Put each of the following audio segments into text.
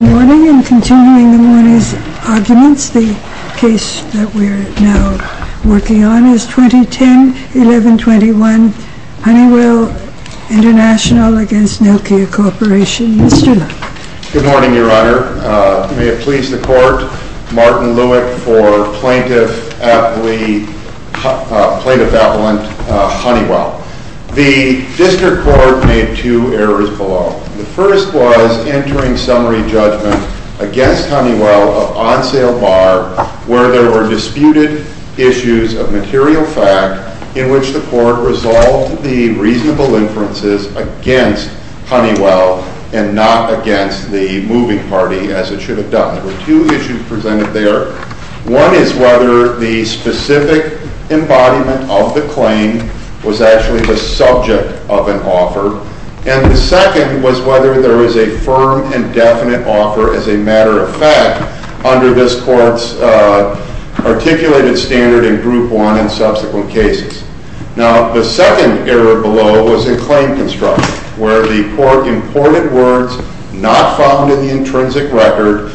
Good morning, and continuing the morning's arguments, the case that we're now working on is 2010-11-21 HONEYWELL INTL v. NOKIA CORP. Mr. Leff. Good morning, Your Honor. May it please the Court, Martin Lewick for Plaintiff Appellant HONEYWELL. The District Court made two errors below. The first was entering summary judgment against Honeywell of on-sale bar where there were disputed issues of material fact in which the Court resolved the reasonable inferences against Honeywell and not against the moving party, as it should have done. There were two issues presented there. One is whether the specific embodiment of the claim was actually the subject of an offer, and the second was whether there was a firm and definite offer as a matter of fact under this Court's articulated standard in Group 1 and subsequent cases. Now, the second error below was in claim construction, where the Court imported words not found in the intrinsic record,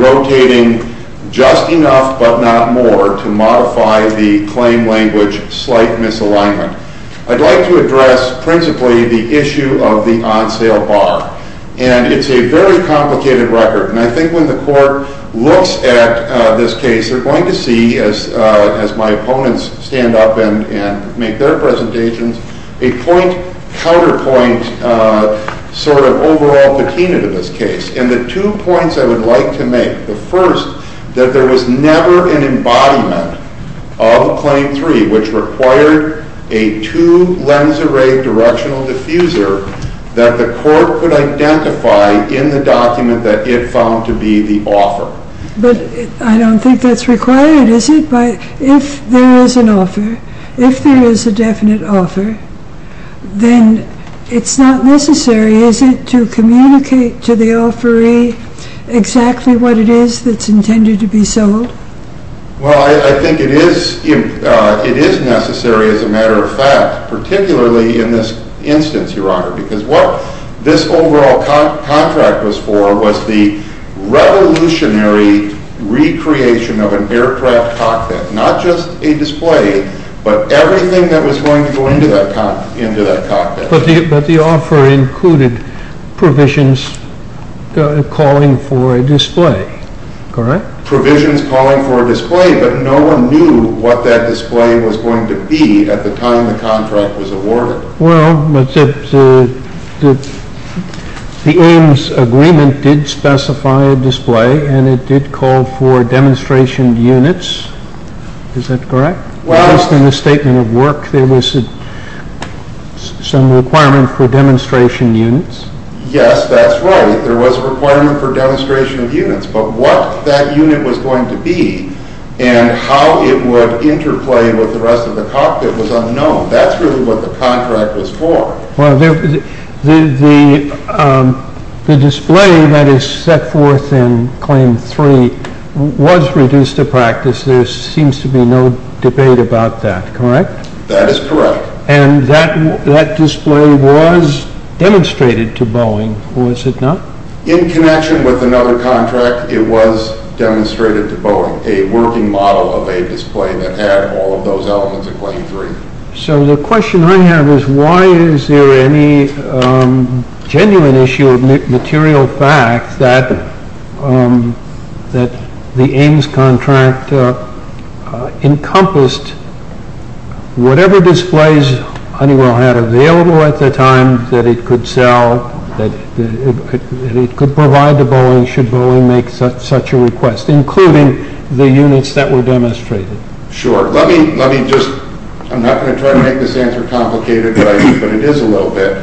rotating just enough but not more to modify the claim language slight misalignment. I'd like to address principally the issue of the on-sale bar, and it's a very complicated record, and I think when the Court looks at this case, they're going to see, as my opponents stand up and make their presentations, a point-counterpoint sort of overall patina to this case. And the two points I would like to make, the first, that there was never an embodiment of Claim 3 which required a two-lens array directional diffuser that the Court could identify in the document that it found to be the offer. But I don't think that's required, is it? If there is an offer, if there is a definite offer, then it's not necessary, is it, to communicate to the offeree exactly what it is that's intended to be sold? Well, I think it is necessary as a matter of fact, particularly in this instance, Your Honor, because what this overall contract was for was the revolutionary recreation of an aircraft cockpit. Not just a display, but everything that was going to go into that cockpit. But the offer included provisions calling for a display, correct? Provisions calling for a display, but no one knew what that display was going to be at the time the contract was awarded. Well, but the Ames Agreement did specify a display, and it did call for demonstration units. Is that correct? Well... Just in the statement of work, there was some requirement for demonstration units. Yes, that's right. There was a requirement for demonstration units, but what that unit was going to be and how it would interplay with the rest of the cockpit was unknown. That's really what the contract was for. Well, the display that is set forth in Claim 3 was reduced to practice. There seems to be no debate about that, correct? That is correct. And that display was demonstrated to Boeing, was it not? In connection with another contract, it was demonstrated to Boeing, a working model of a display that had all of those elements of Claim 3. So the question I have is, why is there any genuine issue of material fact that the Ames contract encompassed whatever displays Honeywell had available at the time that it could sell, that it could provide to Boeing should Boeing make such a request, including the units that were demonstrated? Sure. Let me just... I'm not going to try to make this answer complicated, but it is a little bit.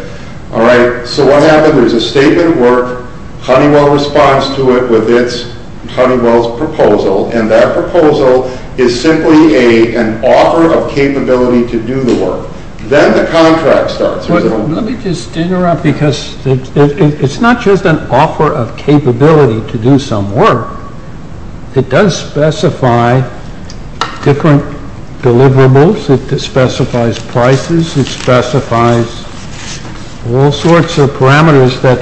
Alright, so what happened? There's a statement of work, Honeywell responds to it with its Honeywell's proposal, and that proposal is simply an offer of capability to do the work. Then the contract starts. Let me just interrupt, because it's not just an offer of capability to do some work. It does specify different deliverables, it specifies prices, it specifies all sorts of parameters that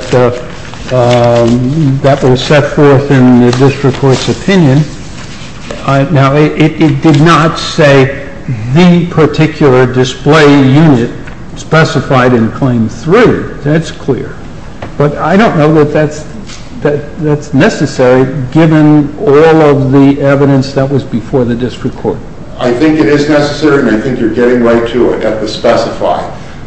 were set forth in this report's opinion. Now, it did not say the particular display unit specified in Claim 3, that's clear. But I don't know that that's necessary given all of the evidence that was before the district court. I think it is necessary, and I think you're getting right to it, at the specify.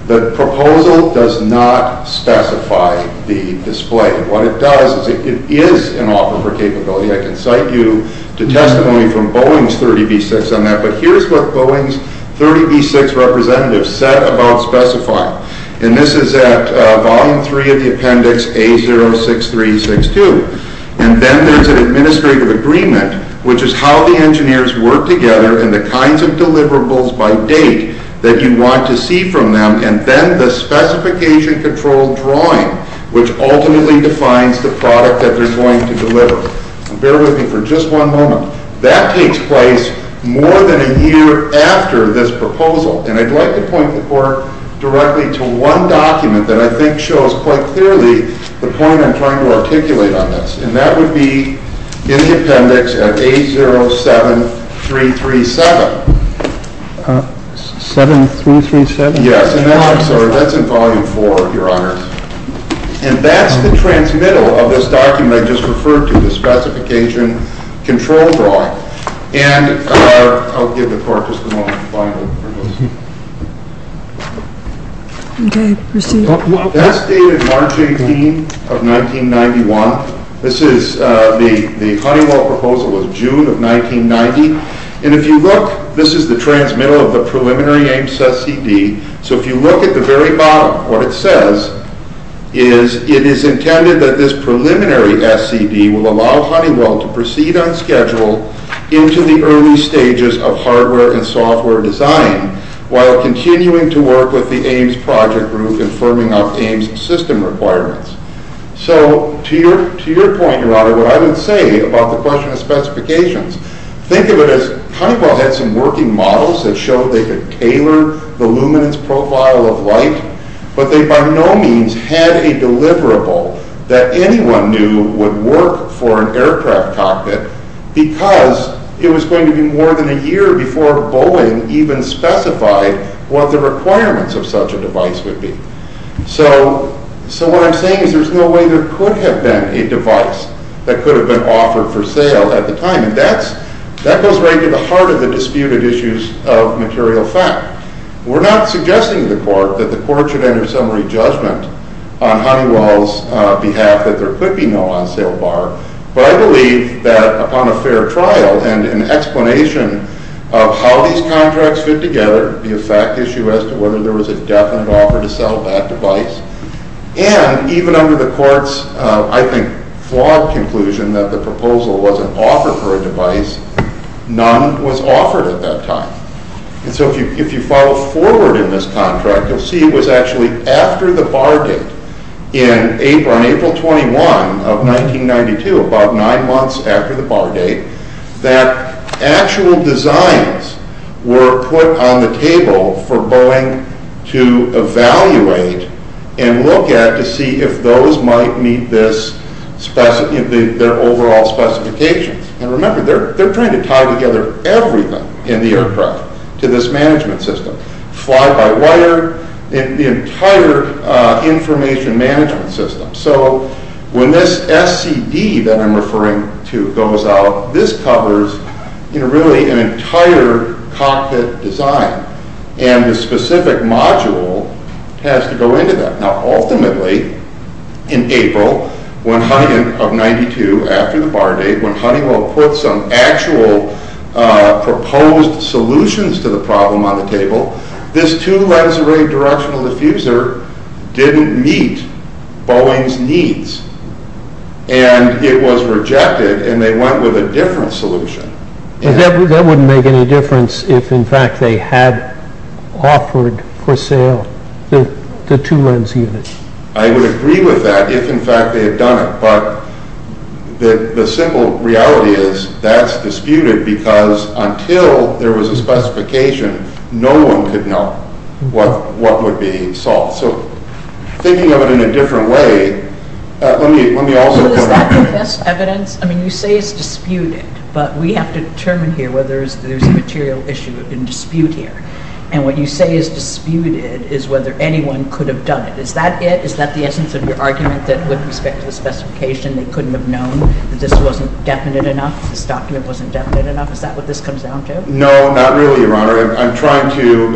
The proposal does not specify the display. What it does is it is an offer for capability. I can cite you to testimony from Boeing's 30B6 on that. But here's what Boeing's 30B6 representative said about specifying. And this is at volume 3 of the appendix A06362. And then there's an administrative agreement, which is how the engineers work together and the kinds of deliverables by date that you want to see from them. And then the specification control drawing, which ultimately defines the product that they're going to deliver. Bear with me for just one moment. That takes place more than a year after this proposal. And I'd like to point the court directly to one document that I think shows quite clearly the point I'm trying to articulate on this. And that would be in the appendix at A07337. A07337? Yes. And that's in volume 4, Your Honor. And that's the transmittal of this document I just referred to, the specification control drawing. And I'll give the court just a moment to find it. Okay. Proceed. That's dated March 18th of 1991. This is the Honeywell proposal of June of 1990. And if you look, this is the transmittal of the preliminary AIMS SCD. So if you look at the very bottom, what it says is it is intended that this preliminary SCD will allow Honeywell to proceed on schedule into the early stages of hardware and software design while continuing to work with the AIMS project group and firming up AIMS system requirements. So to your point, Your Honor, what I would say about the question of specifications, think of it as Honeywell had some working models that showed they could tailor the luminance profile of light, but they by no means had a deliverable that anyone knew would work for an aircraft cockpit because it was going to be more than a year before Boeing even specified what the requirements of such a device would be. So what I'm saying is there's no way there could have been a device that could have been offered for sale at the time. And that goes right to the heart of the disputed issues of material fact. We're not suggesting to the court that the court should enter summary judgment on Honeywell's behalf that there could be no on-sale bar. But I believe that upon a fair trial and an explanation of how these contracts fit together, the effect issue as to whether there was a definite offer to sell that device, and even under the court's, I think, flawed conclusion that the proposal wasn't offered for a device, none was offered at that time. And so if you follow forward in this contract, you'll see it was actually after the bar date on April 21 of 1992, about nine months after the bar date, that actual designs were put on the table for Boeing to evaluate and look at to see if those might meet their overall specifications. And remember, they're trying to tie together everything in the aircraft to this management system. Fly-by-wire, the entire information management system. So when this SCD that I'm referring to goes out, this covers really an entire cockpit design. And the specific module has to go into that. Now ultimately, in April of 1992, after the bar date, when Honeywell put some actual proposed solutions to the problem on the table, this two-lens array directional diffuser didn't meet Boeing's needs. And it was rejected, and they went with a different solution. That wouldn't make any difference if, in fact, they had offered for sale the two-lens unit. I would agree with that if, in fact, they had done it. But the simple reality is that's disputed because until there was a specification, no one could know what would be solved. So thinking of it in a different way, let me also... Well, is that the best evidence? I mean, you say it's disputed, but we have to determine here whether there's a material issue in dispute here. And what you say is disputed is whether anyone could have done it. Is that it? Is that the essence of your argument that with respect to the specification, they couldn't have known that this wasn't definite enough, this document wasn't definite enough? Is that what this comes down to? No, not really, Your Honor. I'm trying to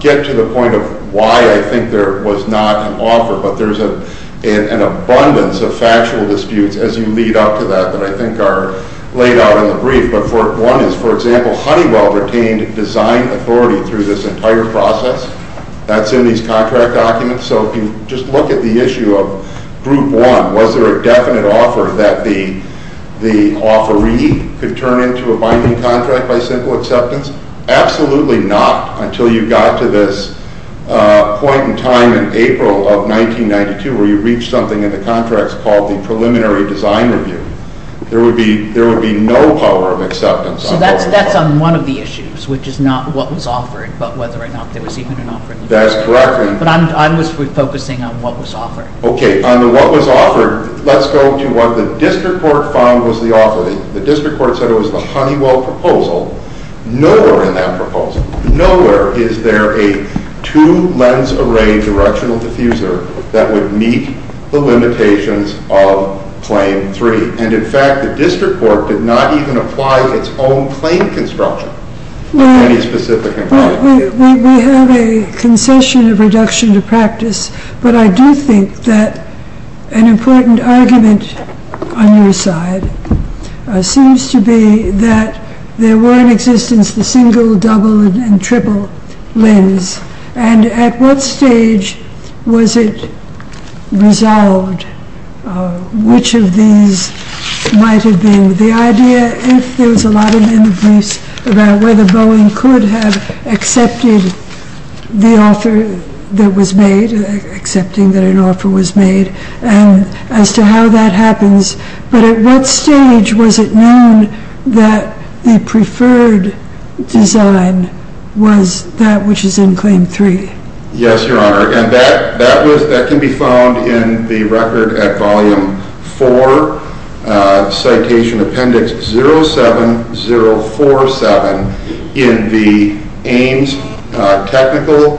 get to the point of why I think there was not an offer, but there's an abundance of factual disputes as you lead up to that that I think are laid out in the brief. But one is, for example, Honeywell retained design authority through this entire process. That's in these contract documents. So if you just look at the issue of Group 1, was there a definite offer that the offeree could turn into a binding contract by simple acceptance? Absolutely not until you got to this point in time in April of 1992 where you reached something in the contracts called the preliminary design review. There would be no power of acceptance. So that's on one of the issues, which is not what was offered, but whether or not there was even an offer. That's correct. But I'm just focusing on what was offered. Okay. On the what was offered, let's go to what the district court found was the offer. The district court said it was the Honeywell proposal. Nowhere in that proposal, nowhere is there a two-lens array directional diffuser that would meet the limitations of Claim 3. And, in fact, the district court did not even apply its own claim construction of any specific environment. We have a concession of reduction to practice, but I do think that an important argument on your side seems to be that there were in existence the single, double, and triple lens. And at what stage was it resolved which of these might have been? The idea, if there was a lot in the briefs about whether Boeing could have accepted the offer that was made, accepting that an offer was made, and as to how that happens. But at what stage was it known that the preferred design was that which is in Claim 3? Yes, Your Honor. And that can be found in the record at Volume 4, Citation Appendix 07047 in the Ames Technical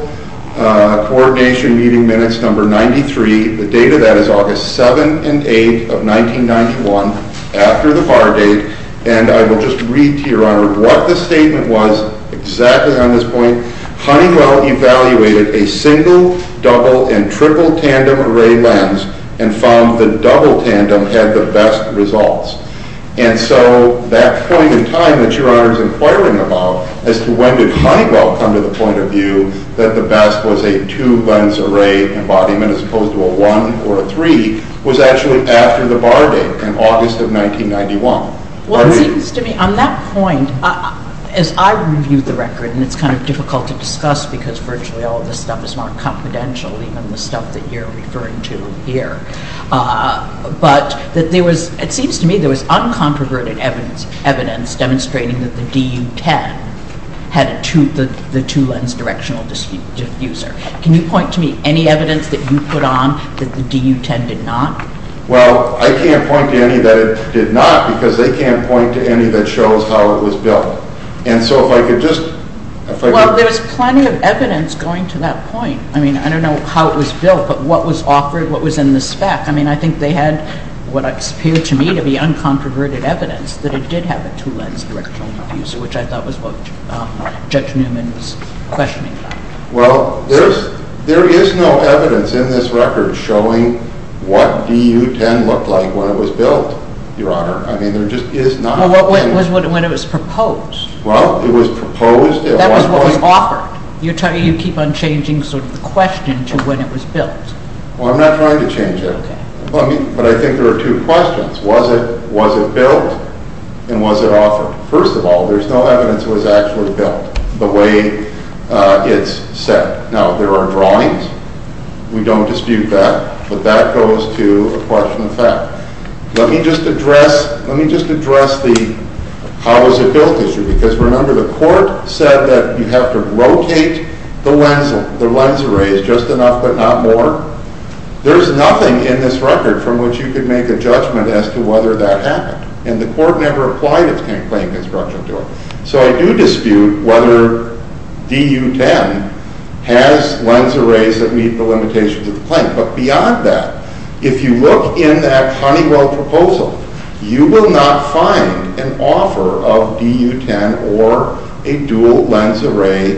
Coordination Meeting Minutes Number 93. The date of that is August 7 and 8 of 1991, after the bar date. And I will just read to Your Honor what the statement was exactly on this point. Honeywell evaluated a single, double, and triple tandem array lens and found the double tandem had the best results. And so that point in time that Your Honor is inquiring about, as to when did Honeywell come to the point of view that the best was a two lens array embodiment as opposed to a one or a three, was actually after the bar date in August of 1991. Well, it seems to me on that point, as I reviewed the record, and it's kind of difficult to discuss because virtually all of this stuff is more confidential, even the stuff that you're referring to here. But it seems to me there was uncontroverted evidence demonstrating that the DU-10 had the two lens directional diffuser. Can you point to me any evidence that you put on that the DU-10 did not? Well, I can't point to any that it did not because they can't point to any that shows how it was built. And so if I could just... Well, there's plenty of evidence going to that point. I mean, I don't know how it was built, but what was offered, what was in the spec. I mean, I think they had what appeared to me to be uncontroverted evidence that it did have a two lens directional diffuser, which I thought was what Judge Newman was questioning. Well, there is no evidence in this record showing what DU-10 looked like when it was built, Your Honor. I mean, there just is not... Well, what was it when it was proposed? Well, it was proposed at one point... That was what was offered. You keep on changing sort of the question to when it was built. Well, I'm not trying to change it. Okay. Well, first of all, there's no evidence it was actually built the way it's said. Now, there are drawings. We don't dispute that, but that goes to a question of fact. Let me just address... Let me just address the how was it built issue because, remember, the court said that you have to rotate the lens. The lens array is just enough but not more. There's nothing in this record from which you could make a judgment as to whether that happened. And the court never applied its claim construction to it. So I do dispute whether DU-10 has lens arrays that meet the limitations of the claim. But beyond that, if you look in that Honeywell proposal, you will not find an offer of DU-10 or a dual lens array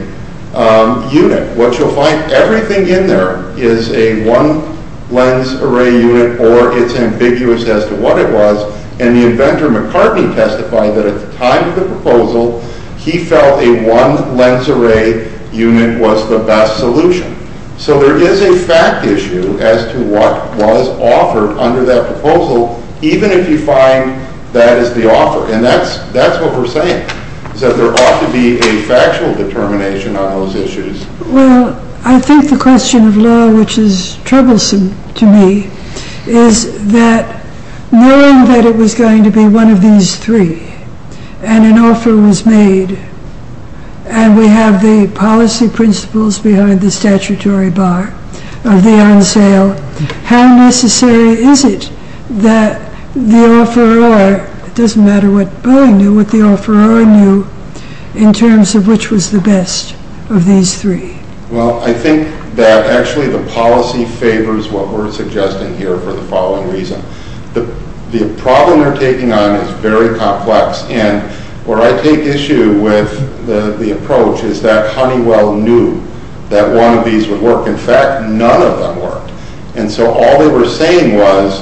unit. What you'll find, everything in there is a one lens array unit or it's ambiguous as to what it was. And the inventor, McCartney, testified that at the time of the proposal, he felt a one lens array unit was the best solution. So there is a fact issue as to what was offered under that proposal, even if you find that is the offer. And that's what we're saying is that there ought to be a factual determination on those issues. Well, I think the question of law, which is troublesome to me, is that knowing that it was going to be one of these three, and an offer was made, and we have the policy principles behind the statutory bar of the on sale, how necessary is it that the offeror, it doesn't matter what Boeing knew, what the offeror knew, in terms of which was the best of these three? Well, I think that actually the policy favors what we're suggesting here for the following reason. The problem they're taking on is very complex. And where I take issue with the approach is that Honeywell knew that one of these would work. In fact, none of them worked. And so all they were saying was,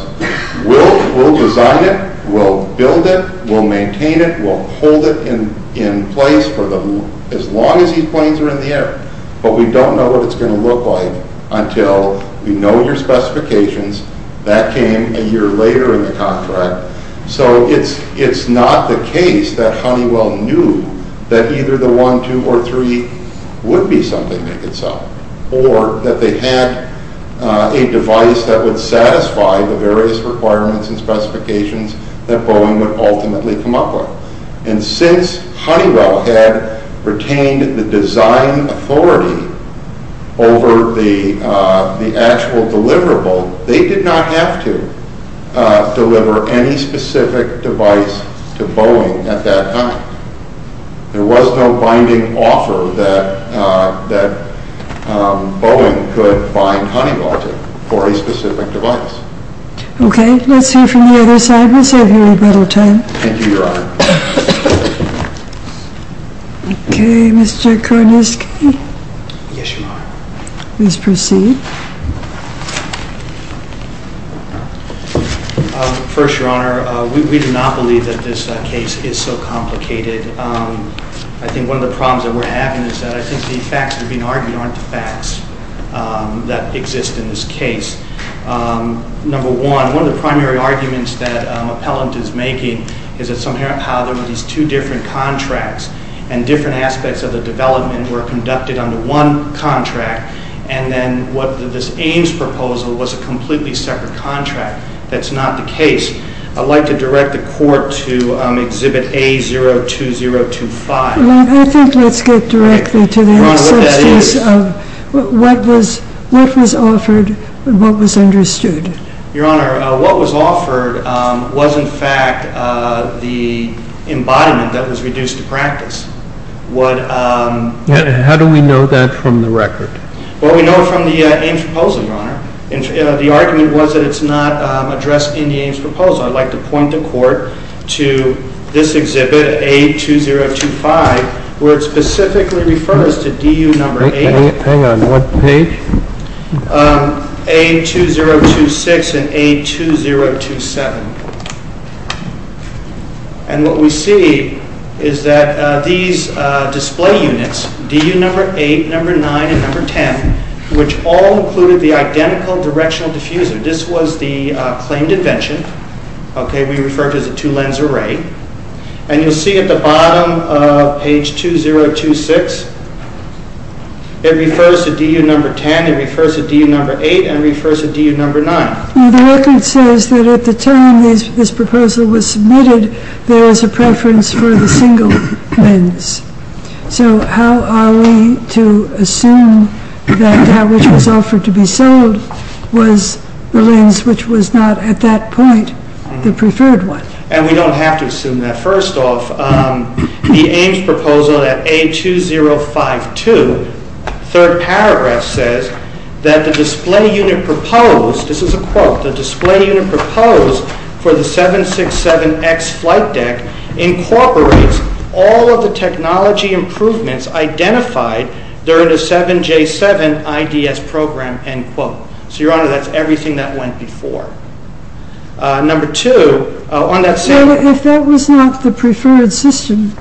we'll design it. We'll build it. We'll maintain it. We'll hold it in place for as long as these planes are in the air. But we don't know what it's going to look like until we know your specifications. That came a year later in the contract. So it's not the case that Honeywell knew that either the one, two, or three would be something they could sell, or that they had a device that would satisfy the various requirements and specifications that Boeing would ultimately come up with. And since Honeywell had retained the design authority over the actual deliverable, they did not have to deliver any specific device to Boeing at that time. There was no binding offer that Boeing could bind Honeywell to for a specific device. Okay. Let's hear from the other side. We'll save you a little time. Thank you, Your Honor. Okay, Mr. Korniski. Yes, Your Honor. Please proceed. First, Your Honor, we do not believe that this case is so complicated. I think one of the problems that we're having is that I think the facts that are being argued aren't the facts that exist in this case. Number one, one of the primary arguments that an appellant is making is that somehow there were these two different contracts, and different aspects of the development were conducted under one contract, and then this Ames proposal was a completely separate contract. That's not the case. I'd like to direct the Court to Exhibit A02025. I think let's get directly to the substance of what was offered and what was understood. Your Honor, what was offered was, in fact, the embodiment that was reduced to practice. How do we know that from the record? Well, we know it from the Ames proposal, Your Honor. The argument was that it's not addressed in the Ames proposal. I'd like to point the Court to this exhibit, A02025, where it specifically refers to DU Number 8. Hang on. What page? A02026 and A02027. And what we see is that these display units, DU Number 8, Number 9, and Number 10, which all included the identical directional diffuser. This was the claimed invention. We refer to it as a two-lens array. And you'll see at the bottom of page A02026, it refers to DU Number 10, it refers to DU Number 8, and it refers to DU Number 9. The record says that at the time this proposal was submitted, there was a preference for the single lens. So how are we to assume that which was offered to be sold was the lens which was not at that point the preferred one? And we don't have to assume that. First off, the Ames proposal at A02052, third paragraph, says that the display unit proposed, this is a quote, the display unit proposed for the 767X flight deck incorporates all of the technology improvements identified during the 7J7 IDS program, end quote. So, Your Honor, that's everything that went before. Number two, on that same- Well, if that was not the preferred system,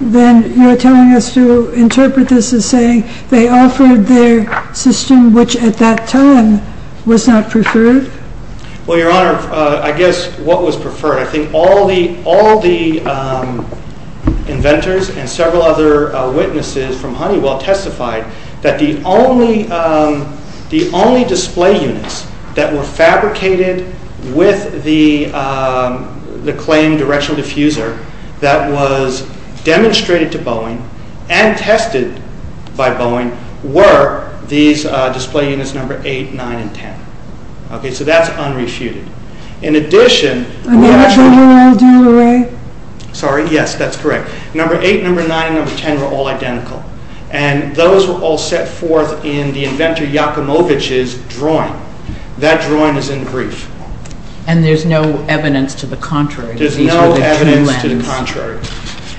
then you're telling us to interpret this as saying they offered their system, which at that time was not preferred? Well, Your Honor, I guess what was preferred, I think all the inventors and several other witnesses from Honeywell testified that the only display units that were fabricated with the claimed directional diffuser that was demonstrated to Boeing and tested by Boeing were these display units number 8, 9, and 10. Okay, so that's unrefuted. In addition- Are they all the same array? Sorry, yes, that's correct. Number 8, number 9, and number 10 were all identical. And those were all set forth in the inventor Yakumovich's drawing. That drawing is in brief. And there's no evidence to the contrary There's no evidence to the contrary.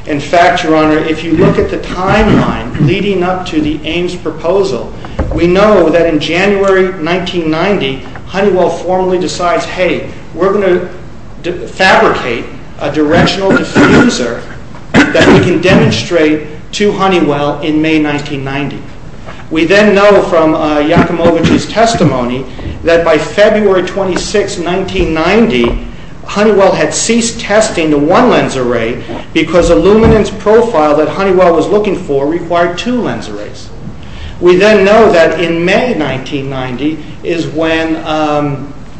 In fact, Your Honor, if you look at the timeline leading up to the Ames proposal, we know that in January 1990, Honeywell formally decides, hey, we're going to fabricate a directional diffuser that we can demonstrate to Honeywell in May 1990. We then know from Yakumovich's testimony that by February 26, 1990, Honeywell had ceased testing the one lens array because the luminance profile that Honeywell was looking for required two lens arrays. We then know that in May 1990 is when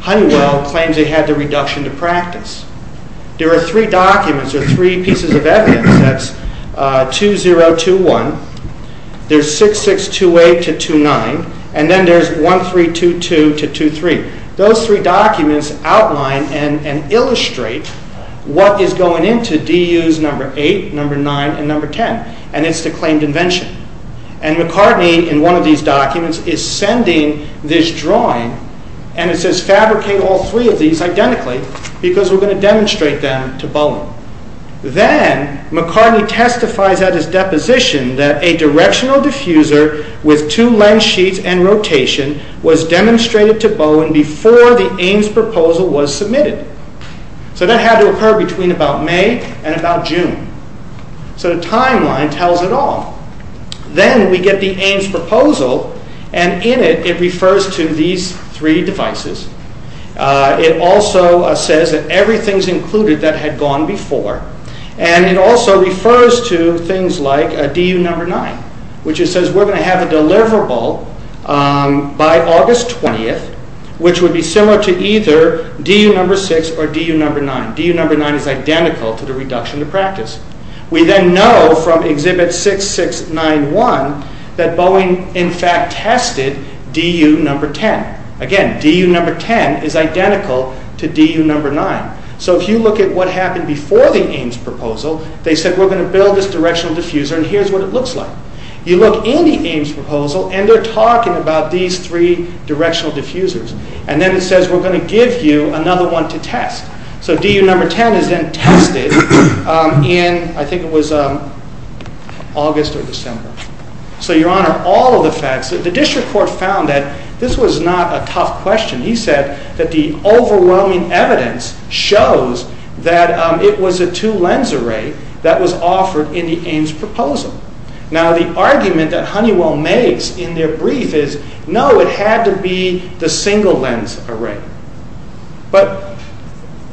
Honeywell claims they had the reduction to practice. There are three documents or three pieces of evidence. That's 2-0-2-1. There's 6-6-2-8 to 2-9. And then there's 1-3-2-2 to 2-3. Those three documents outline and illustrate what is going into DU's number 8, number 9, and number 10, and it's the claimed invention. And McCartney, in one of these documents, is sending this drawing, and it says fabricate all three of these identically because we're going to demonstrate them to Bowen. Then McCartney testifies at his deposition that a directional diffuser with two lens sheets and rotation was demonstrated to Bowen before the Ames proposal was submitted. So that had to occur between about May and about June. So the timeline tells it all. Then we get the Ames proposal, and in it, it refers to these three devices. It also says that everything's included that had gone before. And it also refers to things like DU number 9, which it says we're going to have a deliverable by August 20th, which would be similar to either DU number 6 or DU number 9. DU number 9 is identical to the reduction to practice. We then know from Exhibit 6691 that Bowen, in fact, tested DU number 10. Again, DU number 10 is identical to DU number 9. So if you look at what happened before the Ames proposal, they said we're going to build this directional diffuser, and here's what it looks like. You look in the Ames proposal, and they're talking about these three directional diffusers. And then it says we're going to give you another one to test. So DU number 10 is then tested in, I think it was August or December. So, Your Honor, all of the facts. The district court found that this was not a tough question. He said that the overwhelming evidence shows that it was a two-lens array that was offered in the Ames proposal. Now, the argument that Honeywell makes in their brief is, no, it had to be the single-lens array. But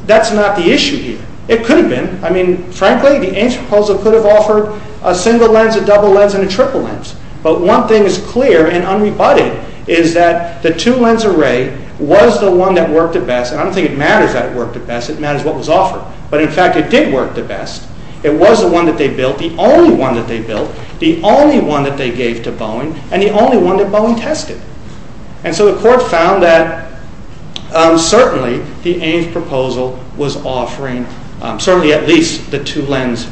that's not the issue here. It could have been. I mean, frankly, the Ames proposal could have offered a single lens, a double lens, and a triple lens. But one thing is clear and unrebutted is that the two-lens array was the one that worked the best. And I don't think it matters that it worked the best. It matters what was offered. But, in fact, it did work the best. It was the one that they built, the only one that they built, the only one that they gave to Boeing, and the only one that Boeing tested. And so the court found that certainly the Ames proposal was offering certainly at least the two-lens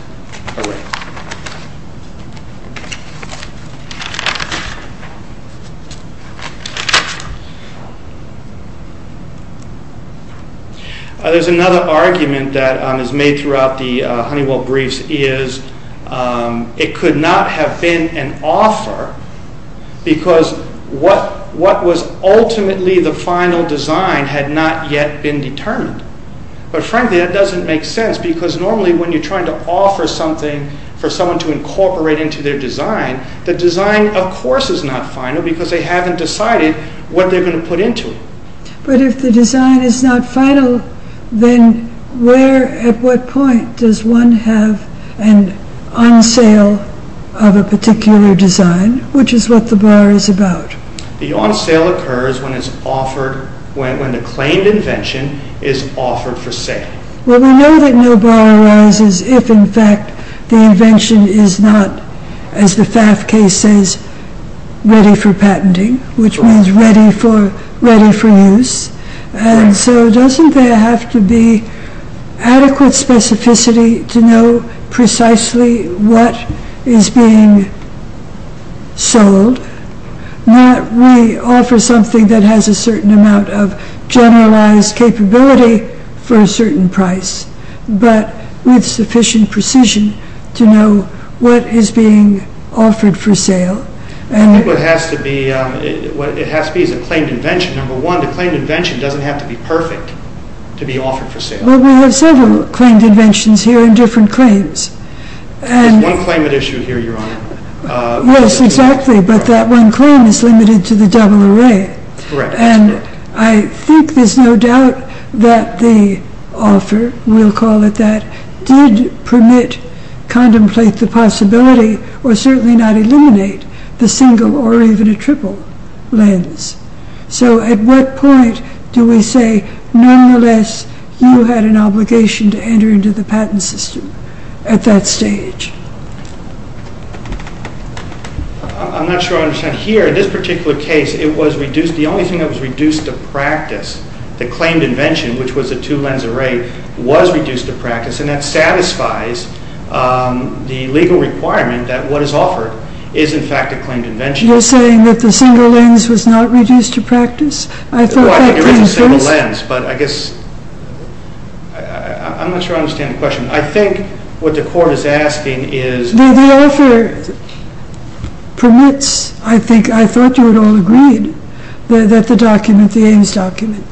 array. There's another argument that is made throughout the Honeywell briefs is it could not have been an offer because what was ultimately the final design had not yet been determined. But, frankly, that doesn't make sense because normally when you're trying to offer something for someone to incorporate into their design, the design, of course, is not final because they haven't decided what they're going to put into it. But if the design is not final, then where, at what point, does one have an on-sale of a particular design, which is what the bar is about? The on-sale occurs when the claimed invention is offered for sale. Well, we know that no bar arises if, in fact, the invention is not, as the FAF case says, ready for patenting, which means ready for use. And so doesn't there have to be adequate specificity to know precisely what is being sold? We offer something that has a certain amount of generalized capability for a certain price, but with sufficient precision to know what is being offered for sale. I think what it has to be is a claimed invention. Number one, the claimed invention doesn't have to be perfect to be offered for sale. Well, we have several claimed inventions here and different claims. There's one claim at issue here, Your Honor. Yes, exactly, but that one claim is limited to the double array. And I think there's no doubt that the offer, we'll call it that, did permit, contemplate the possibility, or certainly not eliminate, the single or even a triple lens. So at what point do we say, nonetheless, you had an obligation to enter into the patent system at that stage? I'm not sure I understand. Here, in this particular case, it was reduced, the only thing that was reduced to practice, the claimed invention, which was a two-lens array, was reduced to practice, and that satisfies the legal requirement that what is offered is, in fact, a claimed invention. You're saying that the single lens was not reduced to practice? I thought that came first. Well, I think it was a single lens, but I guess, I'm not sure I understand the question. I think what the court is asking is... The offer permits, I think, I thought you had all agreed, that the document, the Ames document,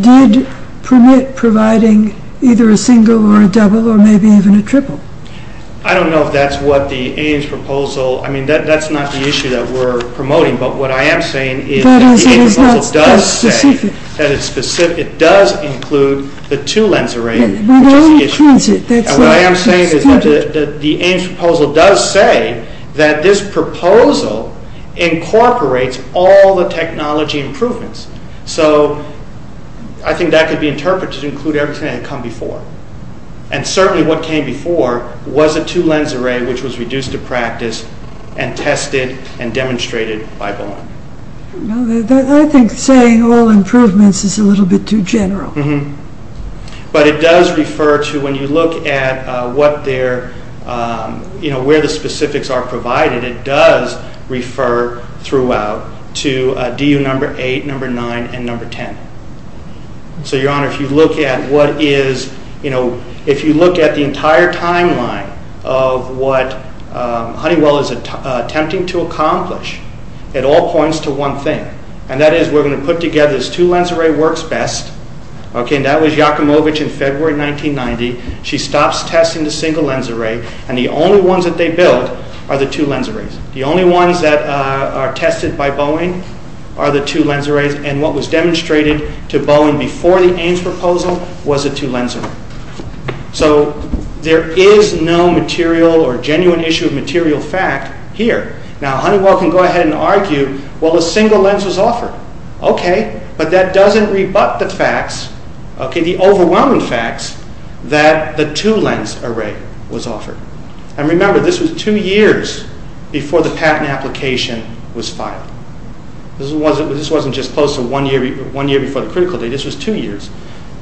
did permit providing either a single or a double or maybe even a triple. I don't know if that's what the Ames proposal, I mean, that's not the issue that we're promoting, but what I am saying is that the Ames proposal does say that it does include the two-lens array, which is the issue. What I am saying is that the Ames proposal does say that this proposal incorporates all the technology improvements, so I think that could be interpreted to include everything that had come before, and certainly what came before was a two-lens array, which was reduced to practice and tested and demonstrated by Bohm. I think saying all improvements is a little bit too general. But it does refer to, when you look at where the specifics are provided, it does refer throughout to DU number 8, number 9, and number 10. So, Your Honor, if you look at the entire timeline of what Honeywell is attempting to accomplish, it all points to one thing, and that is we're going to put together this two-lens array works best, and that was Yakimovich in February 1990. She stops testing the single-lens array, and the only ones that they build are the two-lens arrays. The only ones that are tested by Bohm are the two-lens arrays, and what was demonstrated to Bohm before the Ames proposal was a two-lens array. So there is no material or genuine issue of material fact here. Now, Honeywell can go ahead and argue, well, a single lens was offered. Okay. But that doesn't rebut the facts, the overwhelming facts, that the two-lens array was offered. And remember, this was two years before the patent application was filed. This wasn't just close to one year before the critical date. This was two years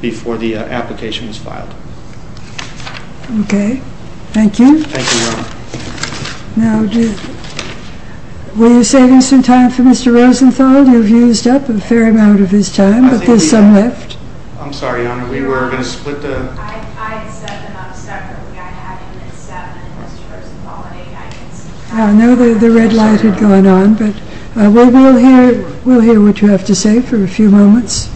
before the application was filed. Okay. Thank you. Thank you, Your Honor. Now, were you saving some time for Mr. Rosenthal? You've used up a fair amount of his time, but there's some left. I'm sorry, Your Honor, we were going to split the— I had seven up separately. I had him at seven and Mr. Rosenthal at eight. I know the red light had gone on, but we'll hear what you have to say for a few moments.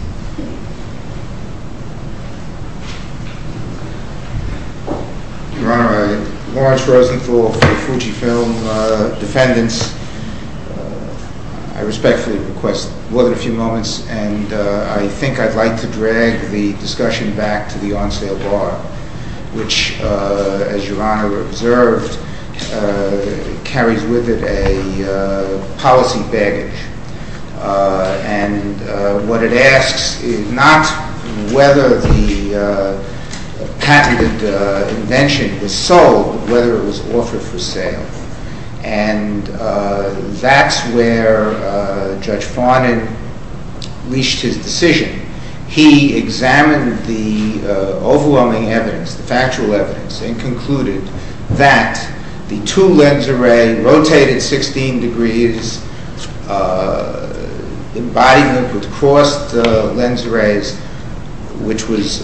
Your Honor, Lawrence Rosenthal for Fujifilm. Defendants, I respectfully request more than a few moments, and I think I'd like to drag the discussion back to the on-sale bar, which, as Your Honor observed, carries with it a policy baggage. And what it asks is not whether the patented invention was sold, but whether it was offered for sale. And that's where Judge Farnan leashed his decision. He examined the overwhelming evidence, the factual evidence, and concluded that the two-lens array rotated 16 degrees, embodiment would cross the lens arrays, which was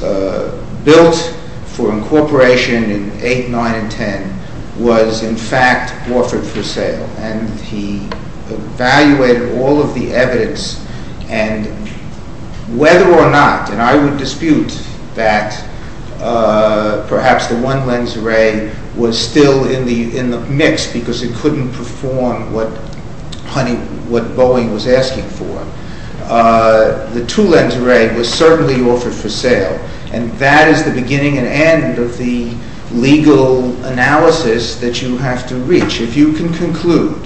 built for incorporation in 8, 9, and 10, was, in fact, offered for sale. And he evaluated all of the evidence, and whether or not— the two-lens array was still in the mix because it couldn't perform what Boeing was asking for. The two-lens array was certainly offered for sale, and that is the beginning and end of the legal analysis that you have to reach. If you can conclude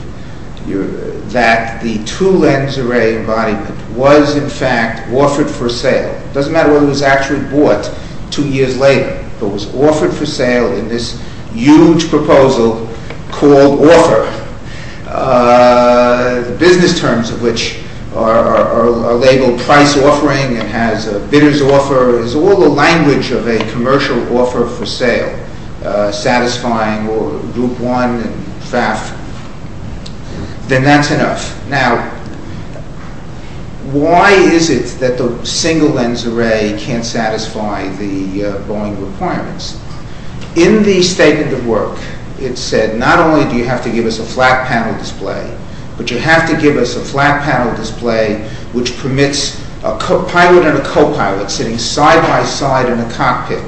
that the two-lens array embodiment was, in fact, offered for sale— it doesn't matter whether it was actually bought two years later, but was offered for sale in this huge proposal called offer, the business terms of which are labeled price offering, it has a bidder's offer, it's all the language of a commercial offer for sale, satisfying Group One and FAF, then that's enough. Now, why is it that the single-lens array can't satisfy the Boeing requirements? In the statement of work, it said, not only do you have to give us a flat-panel display, but you have to give us a flat-panel display which permits a pilot and a co-pilot sitting side-by-side in a cockpit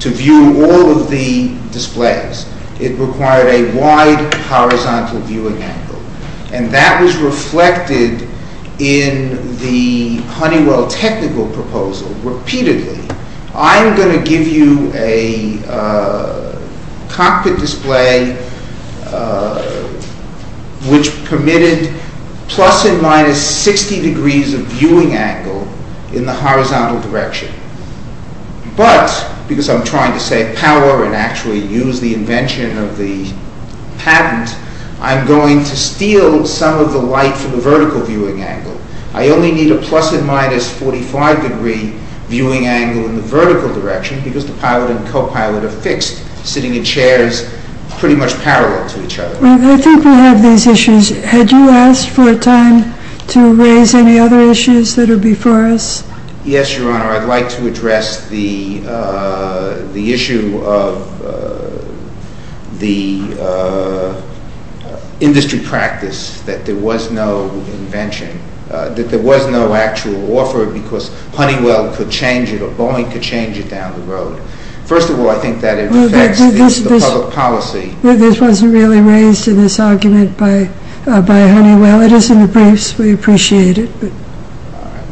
to view all of the displays. It required a wide horizontal viewing angle, and that was reflected in the Honeywell technical proposal repeatedly. I'm going to give you a cockpit display which permitted plus and minus 60 degrees of viewing angle in the horizontal direction. But, because I'm trying to save power and actually use the invention of the patent, I'm going to steal some of the light from the vertical viewing angle. I only need a plus and minus 45 degree viewing angle in the vertical direction because the pilot and co-pilot are fixed, sitting in chairs pretty much parallel to each other. I think we have these issues. Had you asked for a time to raise any other issues that are before us? Yes, Your Honor. Your Honor, I'd like to address the issue of the industry practice that there was no invention, that there was no actual offer because Honeywell could change it or Boeing could change it down the road. First of all, I think that it affects the public policy. This wasn't really raised in this argument by Honeywell. It is in the briefs. We appreciate it.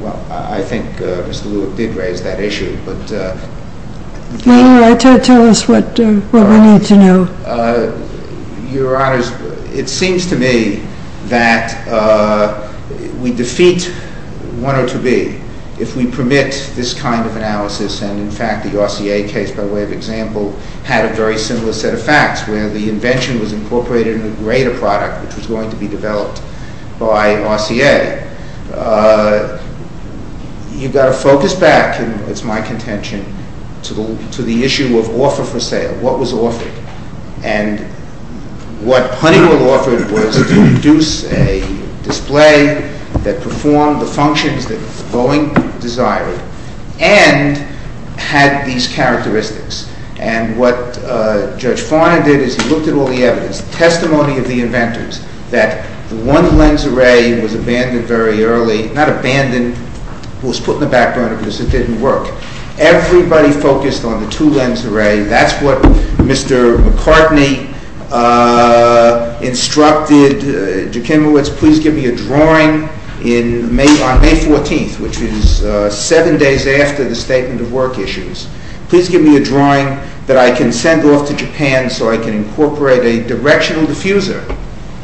Well, I think Mr. Lewick did raise that issue. Why don't you tell us what we need to know? Your Honor, it seems to me that we defeat one or two B if we permit this kind of analysis. In fact, the RCA case, by way of example, had a very similar set of facts where the invention was incorporated in the greater product which was going to be developed by RCA. You've got to focus back, and it's my contention, to the issue of offer for sale, what was offered. And what Honeywell offered was to produce a display that performed the functions that Boeing desired and had these characteristics. And what Judge Farnan did is he looked at all the evidence, testimony of the inventors, that one lens array was abandoned very early. Not abandoned. It was put in the back burner because it didn't work. Everybody focused on the two lens array. That's what Mr. McCartney instructed. Jekimowitz, please give me a drawing on May 14th, which is seven days after the statement of work issues. Please give me a drawing that I can send off to Japan so I can incorporate a directional diffuser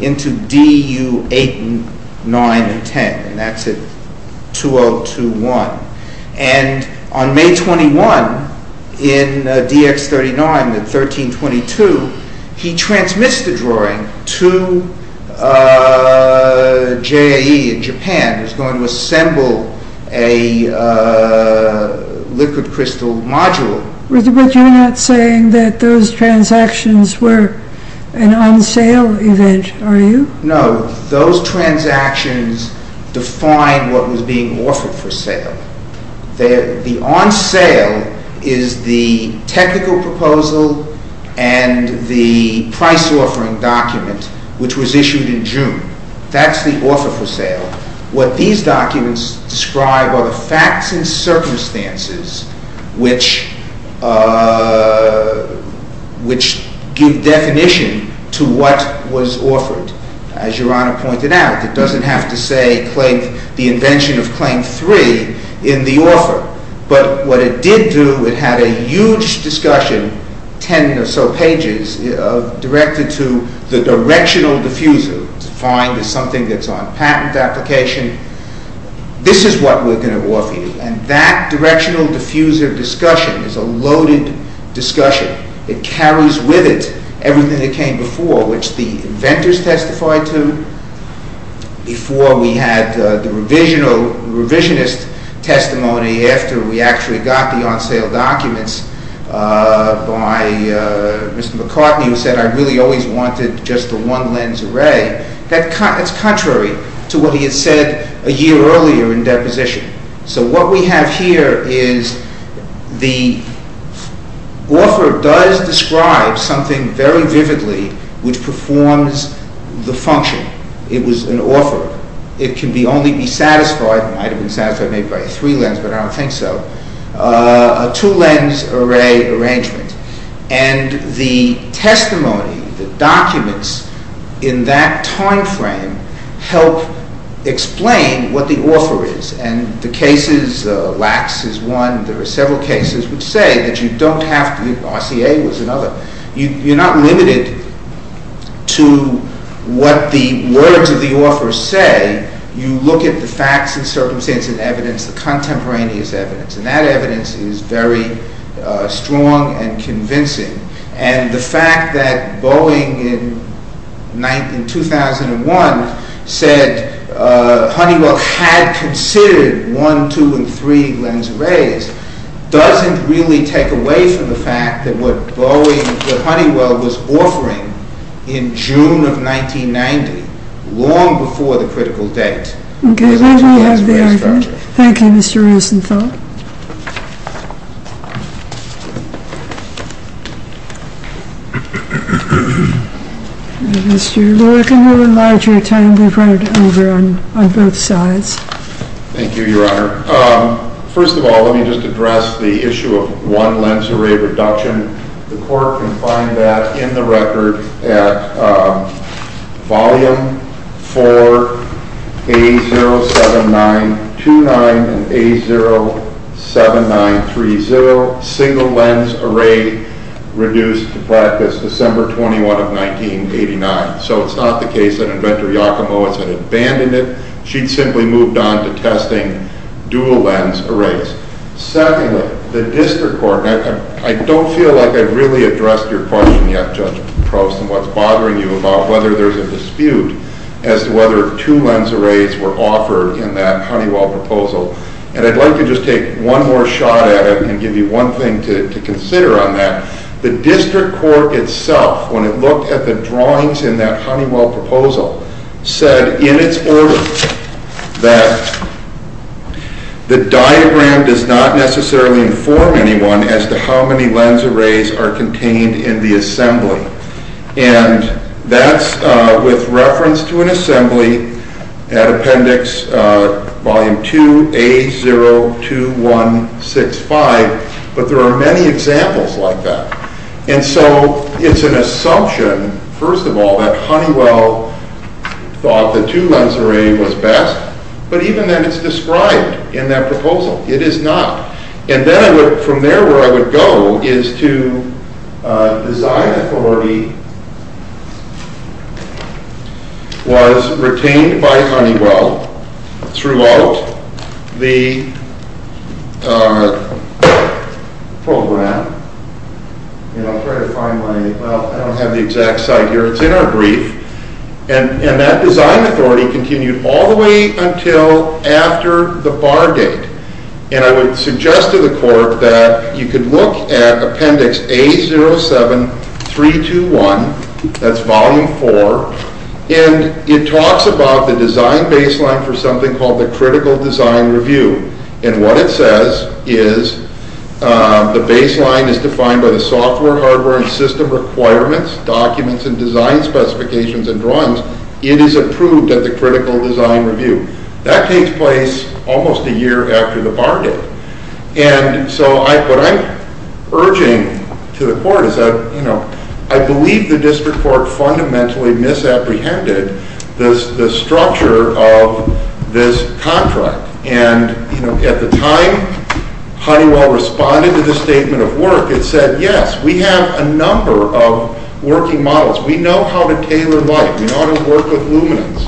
into DU-89 and 10. And that's at 2-0-2-1. And on May 21, in DX-39, at 13-22, he transmits the drawing to JAE in Japan, who's going to assemble a liquid crystal module. But you're not saying that those transactions were an on-sale event, are you? No. Those transactions define what was being offered for sale. The on-sale is the technical proposal and the price-offering document, which was issued in June. That's the offer for sale. What these documents describe are the facts and circumstances which give definition to what was offered. As Your Honor pointed out, it doesn't have to say the invention of Claim 3 in the offer. But what it did do, it had a huge discussion, 10 or so pages, directed to the directional diffuser, defined as something that's on patent application. This is what we're going to offer you. And that directional diffuser discussion is a loaded discussion. It carries with it everything that came before, which the inventors testified to. Before, we had the revisionist testimony. After, we actually got the on-sale documents by Mr. McCartney, who said, I really always wanted just a one-lens array. That's contrary to what he had said a year earlier in deposition. So what we have here is the offer does describe something very vividly which performs the function. It was an offer. It can only be satisfied, it might have been satisfied maybe by a three-lens, but I don't think so, a two-lens array arrangement. And the testimony, the documents in that time frame help explain what the offer is. And the cases, Lacks is one. There are several cases which say that you don't have to, RCA was another, you're not limited to what the words of the offer say. You look at the facts and circumstances and evidence, the contemporaneous evidence, and that evidence is very strong and convincing. And the fact that Boeing in 2001 said Honeywell had considered one, two, and three lens arrays doesn't really take away from the fact that what Boeing, what Honeywell was offering in June of 1990, was a two-lens array structure. Okay, well, we have the argument. Thank you, Mr. Rosenthal. Mr. Lurken, we'll enlarge your time. We've run it over on both sides. Thank you, Your Honor. First of all, let me just address the issue of one-lens array reduction. The court can find that in the record at volume 4A07929 and A081. A07930, single-lens array reduced to practice December 21 of 1989. So it's not the case that Inventor Yakumo had abandoned it. She'd simply moved on to testing dual-lens arrays. Secondly, the district court, and I don't feel like I've really addressed your question yet, Judge Proust, and what's bothering you about whether there's a dispute as to whether two-lens arrays were offered in that Honeywell proposal. And I'd like to just take one more shot at it and give you one thing to consider on that. The district court itself, when it looked at the drawings in that Honeywell proposal, said in its order that the diagram does not necessarily inform anyone as to how many lens arrays are contained in the assembly. And that's with reference to an assembly at appendix volume 2A02165, but there are many examples like that. And so it's an assumption, first of all, that Honeywell thought the two-lens array was best, but even then it's described in that proposal. It is not. And then from there where I would go is to design authority was retained by Honeywell throughout the program. And I'll try to find my... Well, I don't have the exact site here. It's in our brief. And that design authority continued all the way until after the bar date. And I would suggest to the court that you could look at appendix A07321, that's volume 4, and it talks about the design baseline for something called the critical design review. And what it says is the baseline is defined by the software, hardware, and system requirements, documents, and design specifications and drawings. It is approved at the critical design review. That takes place almost a year after the bar date. And so what I'm urging to the court is that, you know, I believe the district court fundamentally misapprehended the structure of this contract. And, you know, at the time Honeywell responded to the statement of work, it said, yes, we have a number of working models. We know how to tailor light. We know how to work with luminance.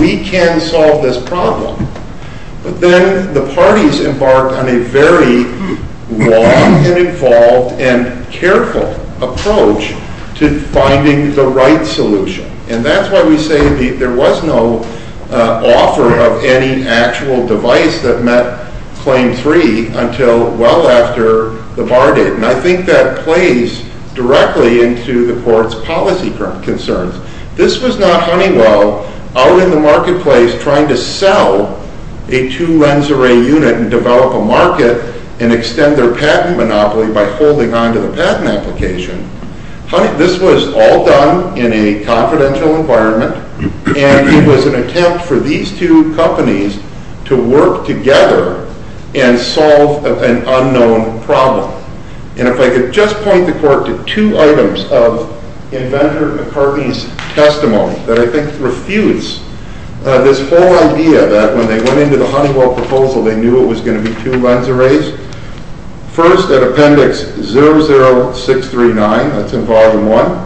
We can solve this problem. But then the parties embarked on a very long and involved and careful approach to finding the right solution. And that's why we say there was no offer of any actual device that met claim 3 until well after the bar date. And I think that plays directly into the court's policy concerns. This was not Honeywell out in the marketplace trying to sell a two lens array unit and develop a market and extend their patent monopoly by holding on to the patent application. This was all done in a confidential environment. And it was an attempt for these two companies to work together and solve an unknown problem. And if I could just point the court to two items of Inventor McCartney's testimony that I think refutes this whole idea that when they went into the Honeywell proposal, they knew it was going to be two lens arrays. First, at appendix 00639, that's involved in one,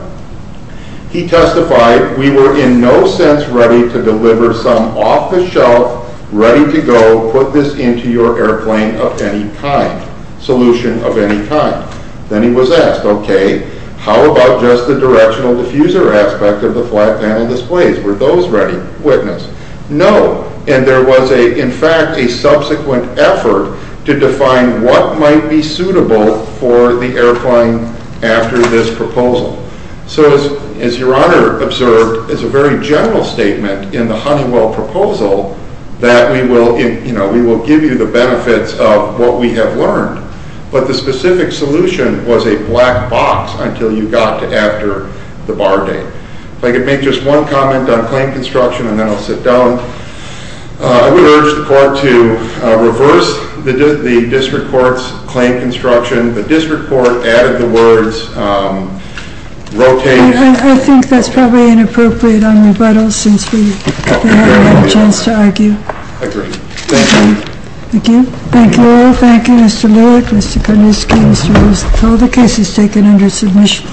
he testified, we were in no sense ready to deliver some off-the-shelf, ready-to-go, put-this-into-your-airplane-of-any-kind solution of any kind. Then he was asked, okay, how about just the directional diffuser aspect of the flat panel displays? Were those ready? Witness? No. And there was, in fact, a subsequent effort to define what might be suitable for the airplane after this proposal. So as Your Honor observed, it's a very general statement in the Honeywell proposal that we will give you the benefits of what we have learned. But the specific solution was a black box until you got to after the bar date. If I could make just one comment on claim construction, and then I'll sit down. I would urge the court to reverse the district court's claim construction. The district court added the words rotating. I think that's probably inappropriate on rebuttal since we haven't had a chance to argue. Agreed. Thank you. Thank you. Thank you all. Thank you, Mr. Lewick, Mr. Kuniski, Mr. Wilson. All the cases taken under submission.